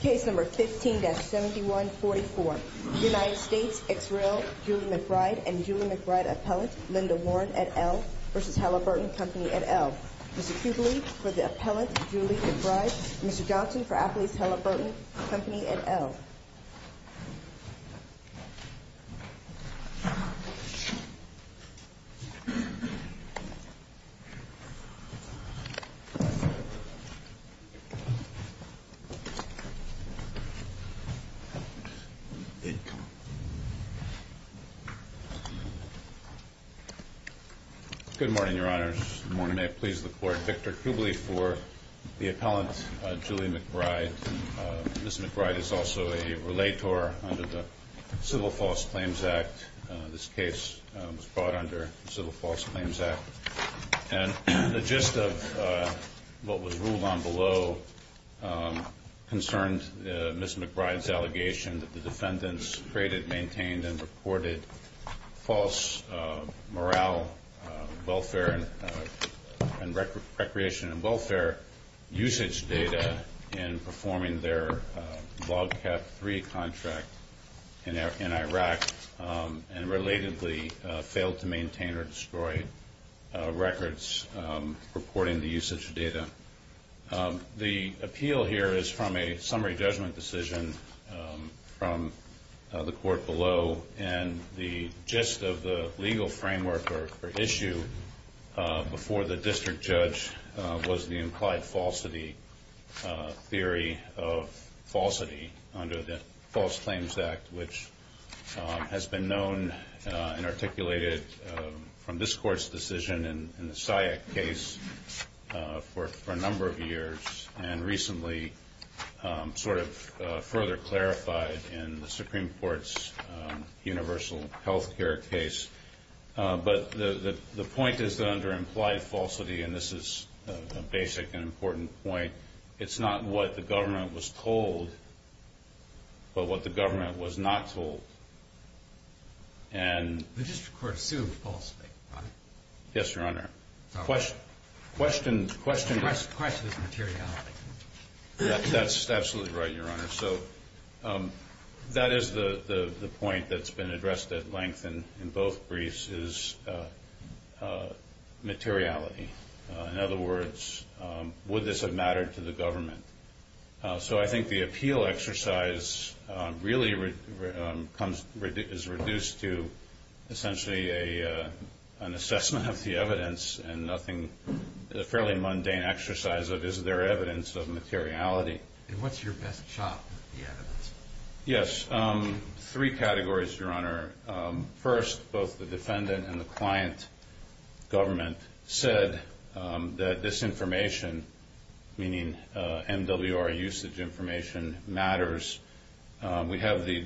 Case No. 15-7144, United States, Israel, Julie McBride and Julie McBride Appellant, Linda Warren, et al. v. Halliburton Company, et al. Mr. Kubeli for the Appellant, Julie McBride. Mr. Johnson for Appley's Halliburton Company, et al. Good morning, Your Honors. Good morning. May it please the Court, Victor Kubeli for the Appellant, Julie McBride. Ms. McBride is also a relator under the Civil False Claims Act. This case was brought under the Civil False Claims Act. And the gist of what was ruled on below concerned Ms. McBride's allegation that the defendants created, maintained, and reported false morale, welfare, and recreation and welfare usage data in performing their Log Cat 3 contract in Iraq and relatedly failed to maintain or destroy records reporting the usage of data. The appeal here is from a summary judgment decision from the Court below, and the gist of the legal framework or issue before the district judge was the implied falsity theory of falsity under the False Claims Act, which has been known and articulated from this Court's decision in the SIAC case for a number of years and recently sort of further clarified in the Supreme Court's universal health care case. But the point is that under implied falsity, and this is a basic and important point, it's not what the government was told but what the government was not told. The district court assumed falsity, right? Yes, Your Honor. Sorry. The question is materiality. That's absolutely right, Your Honor. So that is the point that's been addressed at length in both briefs is materiality. In other words, would this have mattered to the government? So I think the appeal exercise really is reduced to essentially an assessment of the evidence and a fairly mundane exercise of is there evidence of materiality. And what's your best shot with the evidence? Yes. Three categories, Your Honor. First, both the defendant and the client government said that this information, meaning MWR usage information, matters. We have the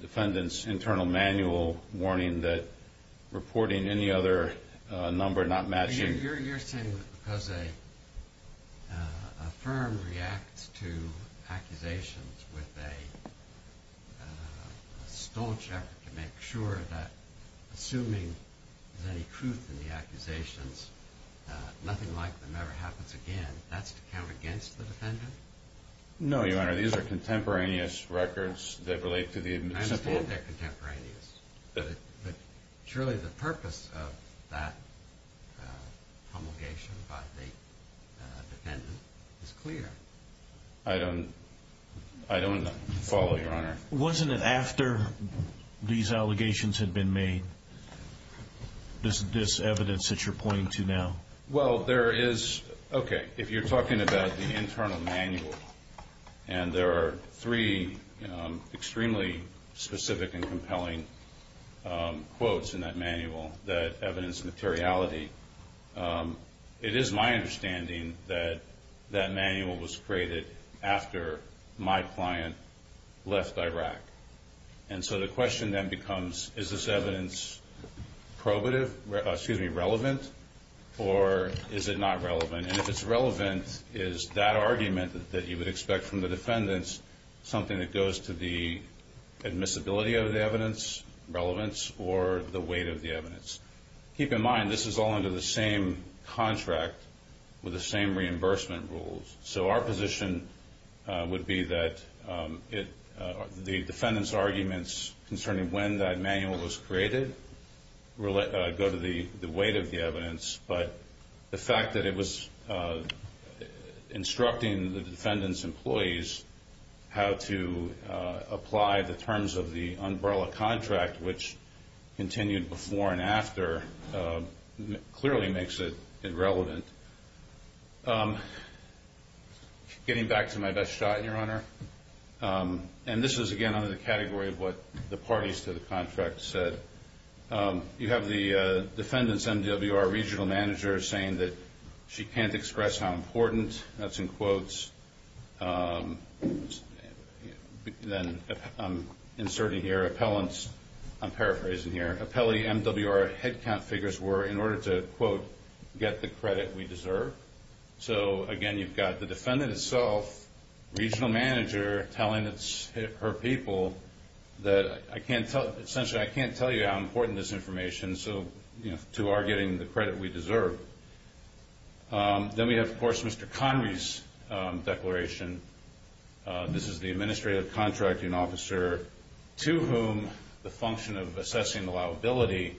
defendant's internal manual warning that reporting any other number not matching You're saying that because a firm reacts to accusations with a staunch effort to make sure that assuming there's any truth in the No, Your Honor. These are contemporaneous records that relate to the municipal I understand they're contemporaneous, but surely the purpose of that promulgation by the defendant is clear. I don't follow, Your Honor. Wasn't it after these allegations had been made, this evidence that you're pointing to now? Well, if you're talking about the internal manual, and there are three extremely specific and compelling quotes in that manual that evidence materiality, it is my understanding that that manual was created after my client left Iraq. And so the question then becomes, is this evidence relevant, or is it not relevant? And if it's relevant, is that argument that you would expect from the defendants something that goes to the admissibility of the evidence, relevance, or the weight of the evidence? Keep in mind, this is all under the same contract with the same reimbursement rules. So our position would be that the defendant's arguments concerning when that manual was created go to the weight of the evidence, but the fact that it was instructing the defendant's employees how to apply the terms of the umbrella contract, which continued before and after, clearly makes it irrelevant. Getting back to my best shot, Your Honor, and this is, again, under the category of what the parties to the contract said. You have the defendant's MWR regional manager saying that she can't express how important, that's in quotes. Then I'm inserting here appellants, I'm paraphrasing here, appellee MWR headcount figures were in order to, quote, get the credit we deserve. So, again, you've got the defendant itself, regional manager, telling her people that, essentially, I can't tell you how important this information is to our getting the credit we deserve. Then we have, of course, Mr. Connery's declaration. This is the administrative contracting officer to whom the function of assessing the liability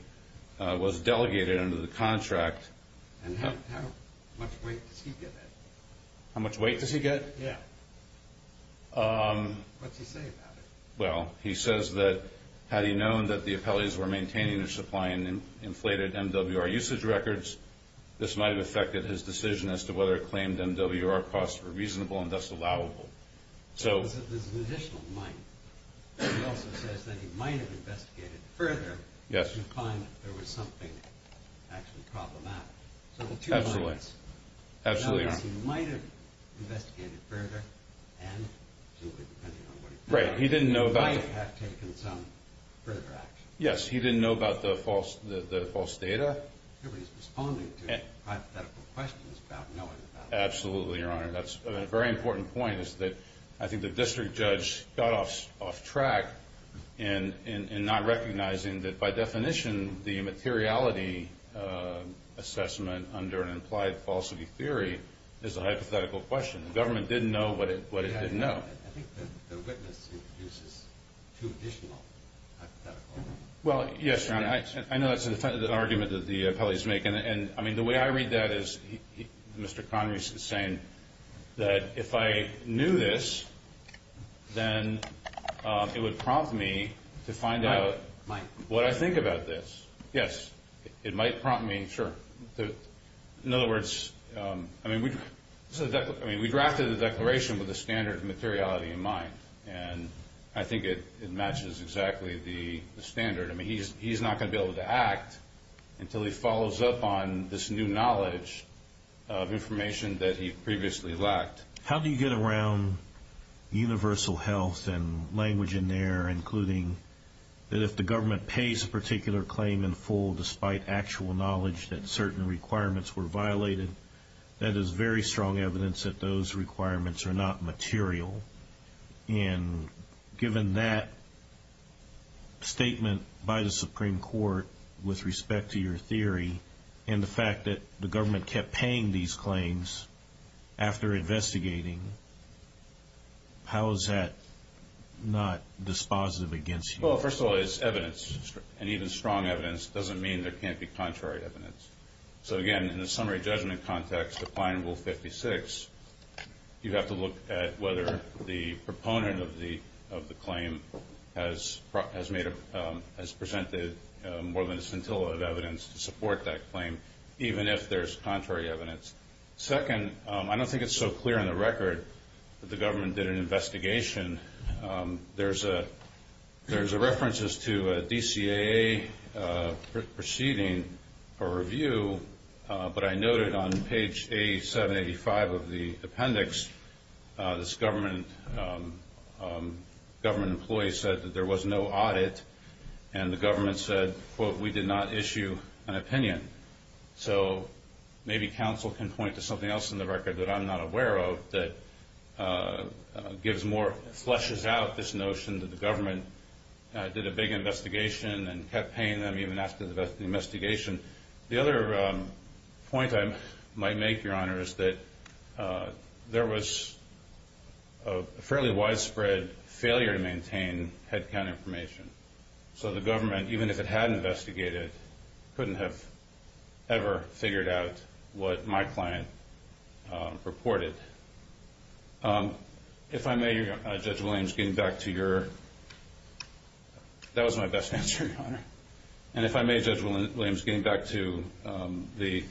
was delegated under the contract. And how much weight does he get? How much weight does he get? Yeah. What's he say about it? Well, he says that had he known that the appellees were maintaining their supply and inflated MWR usage records, this might have affected his decision as to whether claimed MWR costs were reasonable and thus allowable. So there's an additional might. He also says that he might have investigated further to find that there was something actually problematic. So the two mights. Absolutely. Yes, he might have investigated further, and he might have taken some further action. Yes, he didn't know about the false data. Everybody's responding to hypothetical questions about knowing about it. Absolutely, Your Honor. That's a very important point is that I think the district judge got off track in not recognizing that, by definition, the materiality assessment under an implied falsity theory is a hypothetical question. The government didn't know what it didn't know. I think the witness introduces two additional hypotheticals. Well, yes, Your Honor. I know that's an argument that the appellees make. And, I mean, the way I read that is Mr. Connery is saying that if I knew this, then it would prompt me to find out what I think about this. Yes, it might prompt me. Sure. In other words, I mean, we drafted the declaration with a standard of materiality in mind, and I think it matches exactly the standard. I mean, he's not going to be able to act until he follows up on this new knowledge of information that he previously lacked. How do you get around universal health and language in there, including that if the government pays a particular claim in full despite actual knowledge that certain requirements were violated, that is very strong evidence that those requirements are not material? And given that statement by the Supreme Court with respect to your theory and the fact that the government kept paying these claims after investigating, how is that not dispositive against you? Well, first of all, it's evidence, and even strong evidence doesn't mean there can't be contrary evidence. So, again, in the summary judgment context, applying Rule 56, you have to look at whether the proponent of the claim has presented more than a scintilla of evidence to support that claim, even if there's contrary evidence. Second, I don't think it's so clear in the record that the government did an investigation. There's references to a DCAA proceeding for review, but I noted on page 785 of the appendix, this government employee said that there was no audit, and the government said, quote, we did not issue an opinion. So maybe counsel can point to something else in the record that I'm not aware of that gives more, fleshes out this notion that the government did a big investigation and kept paying them even after the investigation. The other point I might make, Your Honor, is that there was a fairly widespread failure to maintain headcount information. So the government, even if it had investigated, couldn't have ever figured out what my client reported. If I may, Judge Williams, getting back to your – that was my best answer, Your Honor. And if I may, Judge Williams, getting back to the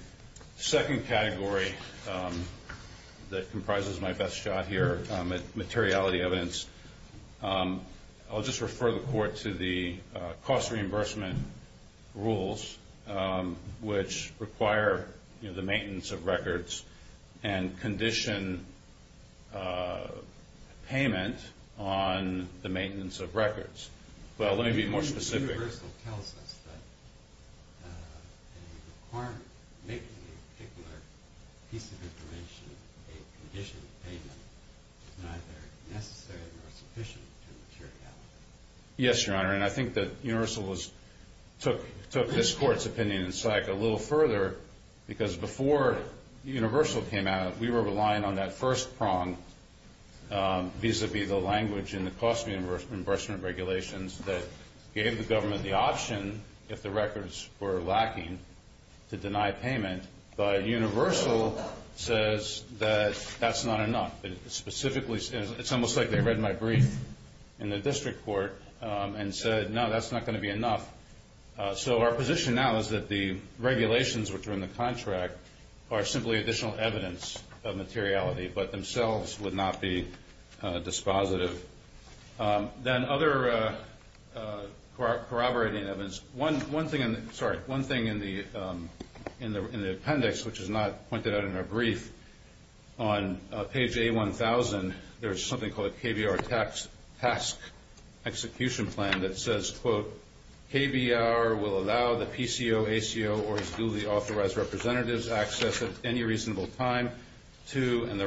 second category that comprises my best shot here, materiality evidence, I'll just refer the Court to the cost reimbursement rules, which require the maintenance of records and condition payment on the maintenance of records. Well, let me be more specific. Universal tells us that a requirement to make a particular piece of information a condition payment is neither necessary nor sufficient to materiality. Yes, Your Honor, and I think that Universal took this Court's opinion in sight a little further because before Universal came out, we were relying on that first prong vis-à-vis the language and the cost reimbursement regulations that gave the government the option, if the records were lacking, to deny payment. But Universal says that that's not enough. It specifically – it's almost like they read my brief in the district court and said, no, that's not going to be enough. So our position now is that the regulations which are in the contract are simply additional evidence of materiality but themselves would not be dispositive. Then other corroborating evidence. One thing in the appendix, which is not pointed out in our brief, on page A-1000, there's something called a KBR task execution plan that says, quote, and the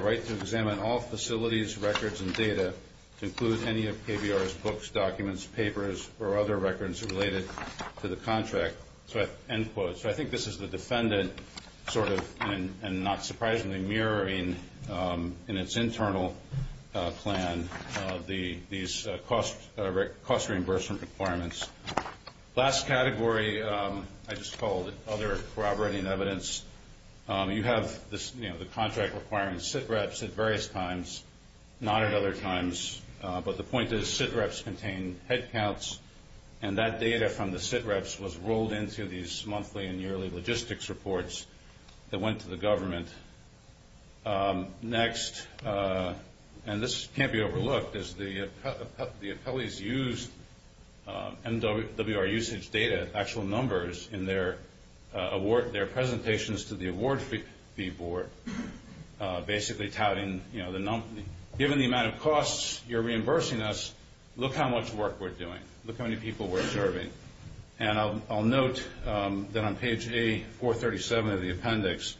right to examine all facilities, records, and data to include any of KBR's books, documents, papers, or other records related to the contract, end quote. So I think this is the defendant sort of, and not surprisingly, mirroring in its internal plan these cost reimbursement requirements. Last category I just called other corroborating evidence. You have the contract requiring SITREPS at various times, not at other times. But the point is SITREPS contain headcounts, and that data from the SITREPS was rolled into these monthly and yearly logistics reports that went to the government. Next, and this can't be overlooked, is the appellees used MWR usage data, actual numbers in their presentations to the award fee board, basically touting, you know, given the amount of costs you're reimbursing us, look how much work we're doing. Look how many people we're serving. And I'll note that on page A-437 of the appendix,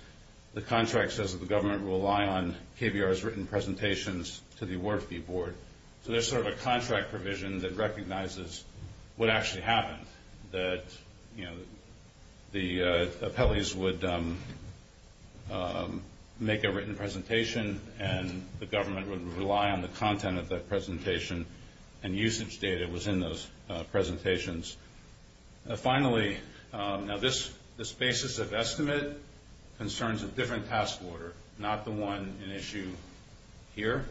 the contract says that the government will rely on KBR's written presentations to the award fee board. So there's sort of a contract provision that recognizes what actually happened, that, you know, the appellees would make a written presentation, and the government would rely on the content of that presentation, and usage data was in those presentations. Finally, now this basis of estimate concerns a different task order, not the one in issue here.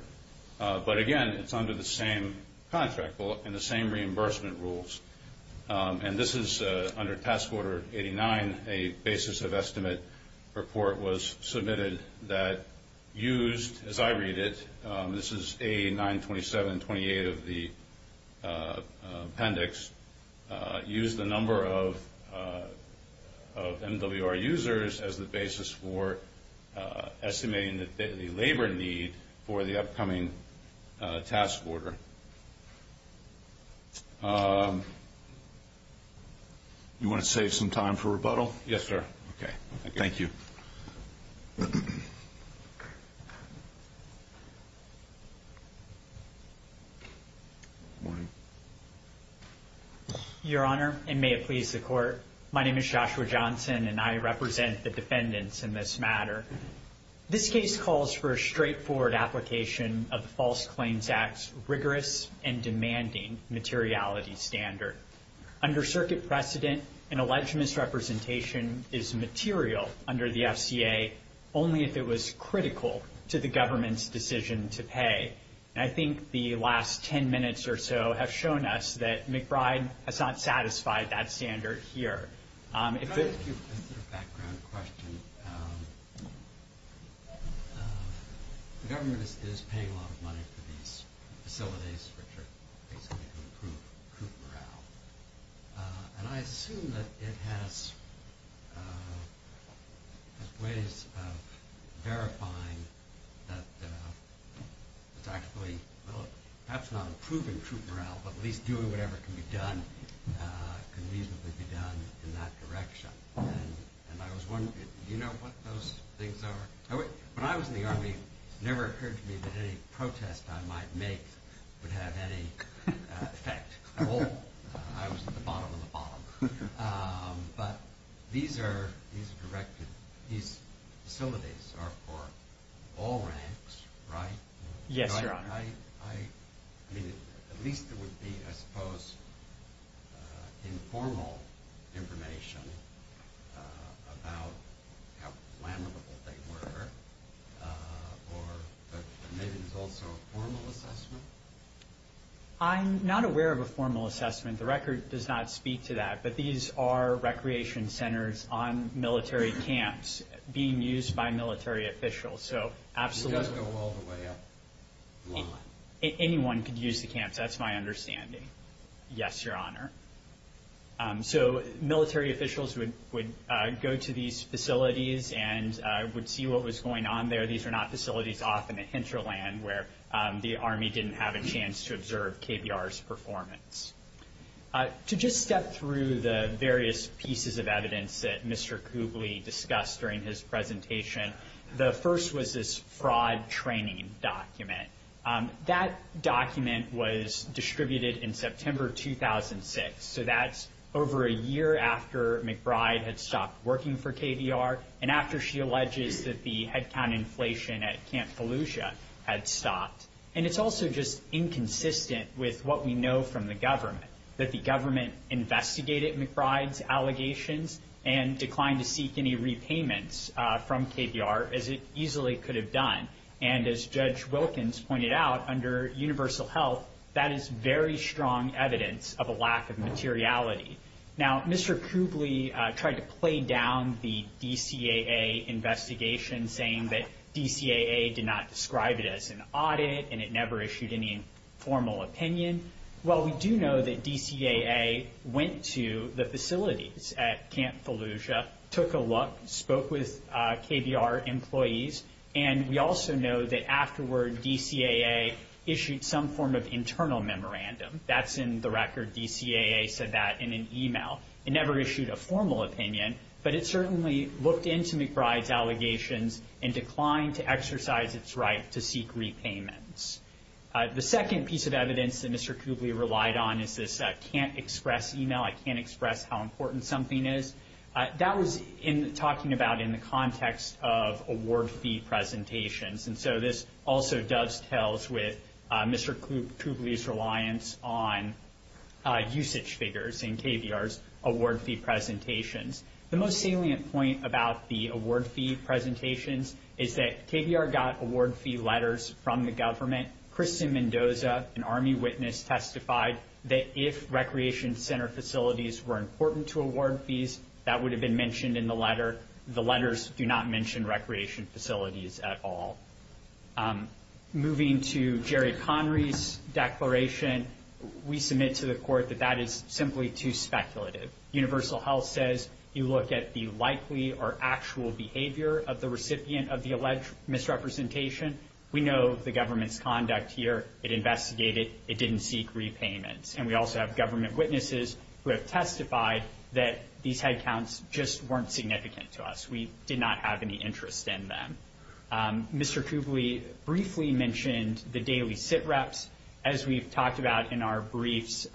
But, again, it's under the same contract and the same reimbursement rules, and this is under task order 89, a basis of estimate report was submitted that used, as I read it, this is A-927-28 of the appendix, used the number of MWR users as the basis for estimating the labor need for the upcoming task order. You want to save some time for rebuttal? Yes, sir. Okay. Thank you. Your Honor, and may it please the Court, my name is Joshua Johnson, and I represent the defendants in this matter. This case calls for a straightforward application of the False Claims Act's rigorous and demanding materiality standard. Under circuit precedent, an alleged misrepresentation is material under the FCA, only if it was critical to the government's decision to pay. And I think the last 10 minutes or so have shown us that McBride has not satisfied that standard here. Your Honor, just a background question. The government is paying a lot of money for these facilities, which are basically to improve troop morale, and I assume that it has ways of verifying that it's actually, well, perhaps not improving troop morale, but at least doing whatever can be done can reasonably be done in that direction. And I was wondering, do you know what those things are? When I was in the Army, it never occurred to me that any protest I might make would have any effect at all. I was at the bottom of the bottom. But these are directed, these facilities are for all ranks, right? Yes, Your Honor. I mean, at least there would be, I suppose, informal information about how flammable they were, or maybe there's also a formal assessment? I'm not aware of a formal assessment. The record does not speak to that. But these are recreation centers on military camps being used by military officials. It doesn't go all the way up the line. Anyone could use the camps, that's my understanding. Yes, Your Honor. So military officials would go to these facilities and would see what was going on there. These are not facilities off in a hinterland where the Army didn't have a chance to observe KBR's performance. To just step through the various pieces of evidence that Mr. Kugle discussed during his presentation, the first was this fraud training document. That document was distributed in September 2006. So that's over a year after McBride had stopped working for KBR and after she alleges that the headcount inflation at Camp Fallujah had stopped. And it's also just inconsistent with what we know from the government, that the government investigated McBride's allegations and declined to seek any repayments from KBR, as it easily could have done. And as Judge Wilkins pointed out, under universal health, that is very strong evidence of a lack of materiality. Now, Mr. Kugle tried to play down the DCAA investigation, saying that DCAA did not describe it as an audit and it never issued any formal opinion. While we do know that DCAA went to the facilities at Camp Fallujah, took a look, spoke with KBR employees, and we also know that afterward DCAA issued some form of internal memorandum. That's in the record. DCAA said that in an email. It never issued a formal opinion, but it certainly looked into McBride's allegations and declined to exercise its right to seek repayments. The second piece of evidence that Mr. Kugle relied on is this can't express email, I can't express how important something is. That was talking about in the context of award fee presentations. And so this also dovetails with Mr. Kugle's reliance on usage figures in KBR's award fee presentations. The most salient point about the award fee presentations is that KBR got award fee letters from the government. Kristen Mendoza, an Army witness, testified that if recreation center facilities were important to award fees, that would have been mentioned in the letter. The letters do not mention recreation facilities at all. Moving to Jerry Connery's declaration, we submit to the court that that is simply too speculative. Universal Health says you look at the likely or actual behavior of the recipient of the alleged misrepresentation. We know the government's conduct here. It investigated. It didn't seek repayments. And we also have government witnesses who have testified that these headcounts just weren't significant to us. We did not have any interest in them. Mr. Kugle briefly mentioned the daily sit-reps. As we've talked about in our briefs,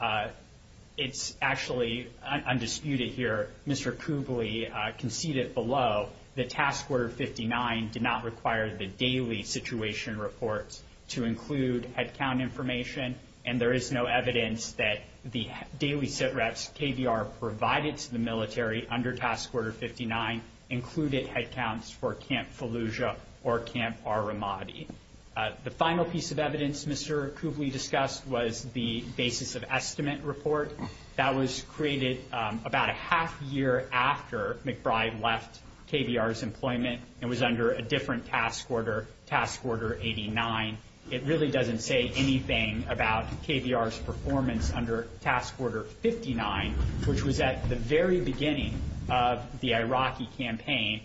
it's actually undisputed here. Mr. Kugle conceded below that Task Order 59 did not require the daily situation reports to include headcount information, and there is no evidence that the daily sit-reps KBR provided to the military under Task Order 59 included headcounts for Camp Fallujah or Camp Aramadi. The final piece of evidence Mr. Kugle discussed was the basis of estimate report. That was created about a half year after McBride left KBR's employment and was under a different task order, Task Order 89. It really doesn't say anything about KBR's performance under Task Order 59, which was at the very beginning of the Iraqi campaign.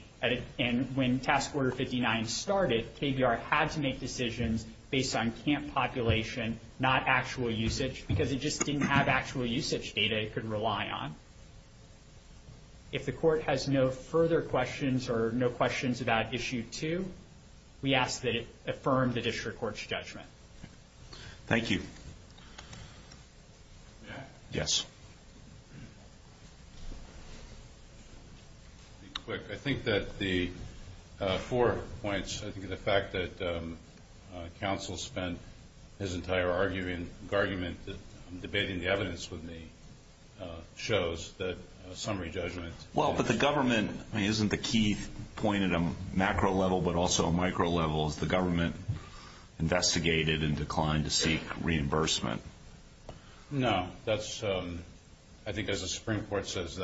When Task Order 59 started, KBR had to make decisions based on camp population, not actual usage, because it just didn't have actual usage data it could rely on. If the court has no further questions or no questions about Issue 2, we ask that it affirm the district court's judgment. Thank you. Yes. I'll be quick. I think that the four points, I think the fact that counsel spent his entire argument debating the evidence with me shows that a summary judgment. Well, but the government, isn't the key point at a macro level but also a micro level, is the government investigated and declined to seek reimbursement? No. I think as the Supreme Court says,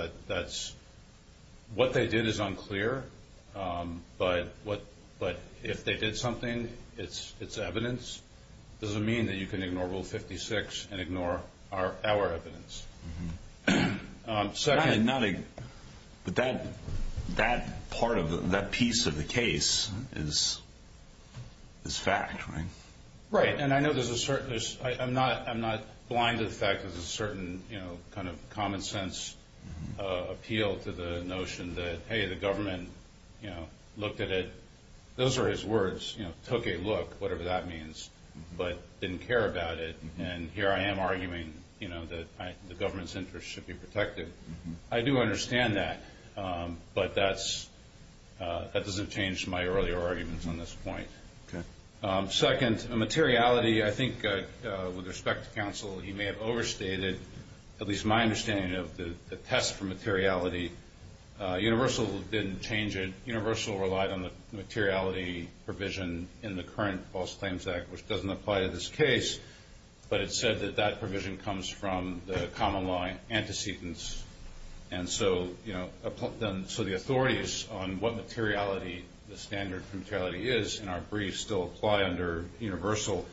what they did is unclear, but if they did something, it's evidence. It doesn't mean that you can ignore Rule 56 and ignore our evidence. But that piece of the case is fact, right? Right. And I know there's a certain, I'm not blind to the fact there's a certain kind of common sense appeal to the notion that, hey, the government looked at it, those are his words, took a look, whatever that means, but didn't care about it, and here I am arguing that the government's interest should be protected. I do understand that, but that doesn't change my earlier arguments on this point. Okay. Second, materiality, I think with respect to counsel, he may have overstated at least my understanding of the test for materiality. Universal didn't change it. Universal relied on the materiality provision in the current False Claims Act, which doesn't apply to this case, but it said that that provision comes from the common law antecedents. And so the authorities on what materiality the standard for materiality is in our briefs still apply under universal,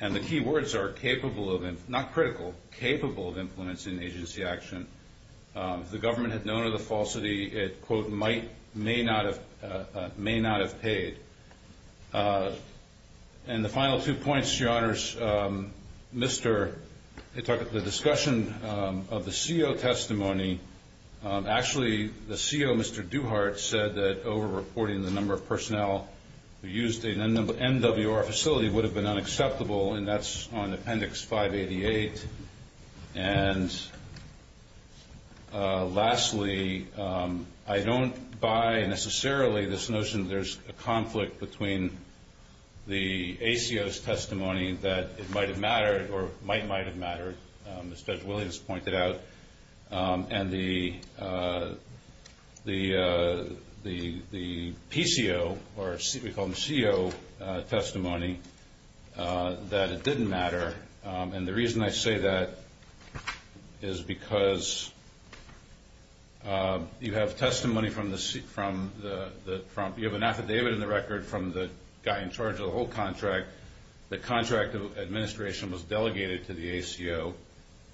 and the key words are capable of, not critical, capable of influencing agency action. If the government had known of the falsity, it, quote, may not have paid. And the final two points, Your Honors, the discussion of the CO testimony, actually the CO, Mr. Duhart, said that overreporting the number of personnel who used an NWR facility would have been unacceptable, and that's on Appendix 588. And lastly, I don't buy necessarily this notion there's a conflict between the ACO's testimony that it might have mattered or might, might have mattered, as Judge Williams pointed out, and the PCO, or we call them CO testimony, that it didn't matter. And the reason I say that is because you have testimony from the, you have an affidavit in the record from the guy in charge of the whole contract. The contract administration was delegated to the ACO,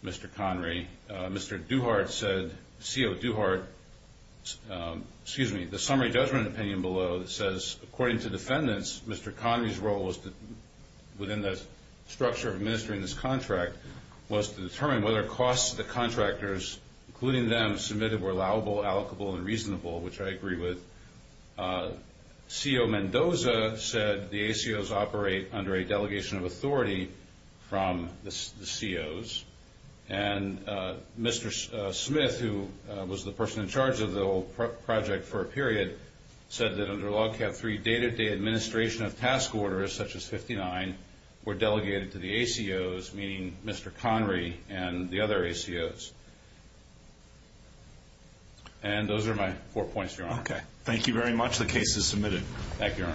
Mr. Connery. Mr. Duhart said, CO Duhart, excuse me, the summary judgment opinion below that says, according to defendants, Mr. Connery's role was to, within the structure of administering this contract, was to determine whether costs to the contractors, including them, submitted were allowable, allocable, and reasonable, which I agree with. CO Mendoza said the ACOs operate under a delegation of authority from the COs. And Mr. Smith, who was the person in charge of the whole project for a period, said that under Log Cab 3, day-to-day administration of task orders, such as 59, were delegated to the ACOs, meaning Mr. Connery and the other ACOs. And those are my four points, Your Honor. Okay. Thank you very much. The case is submitted. Thank you, Your Honor.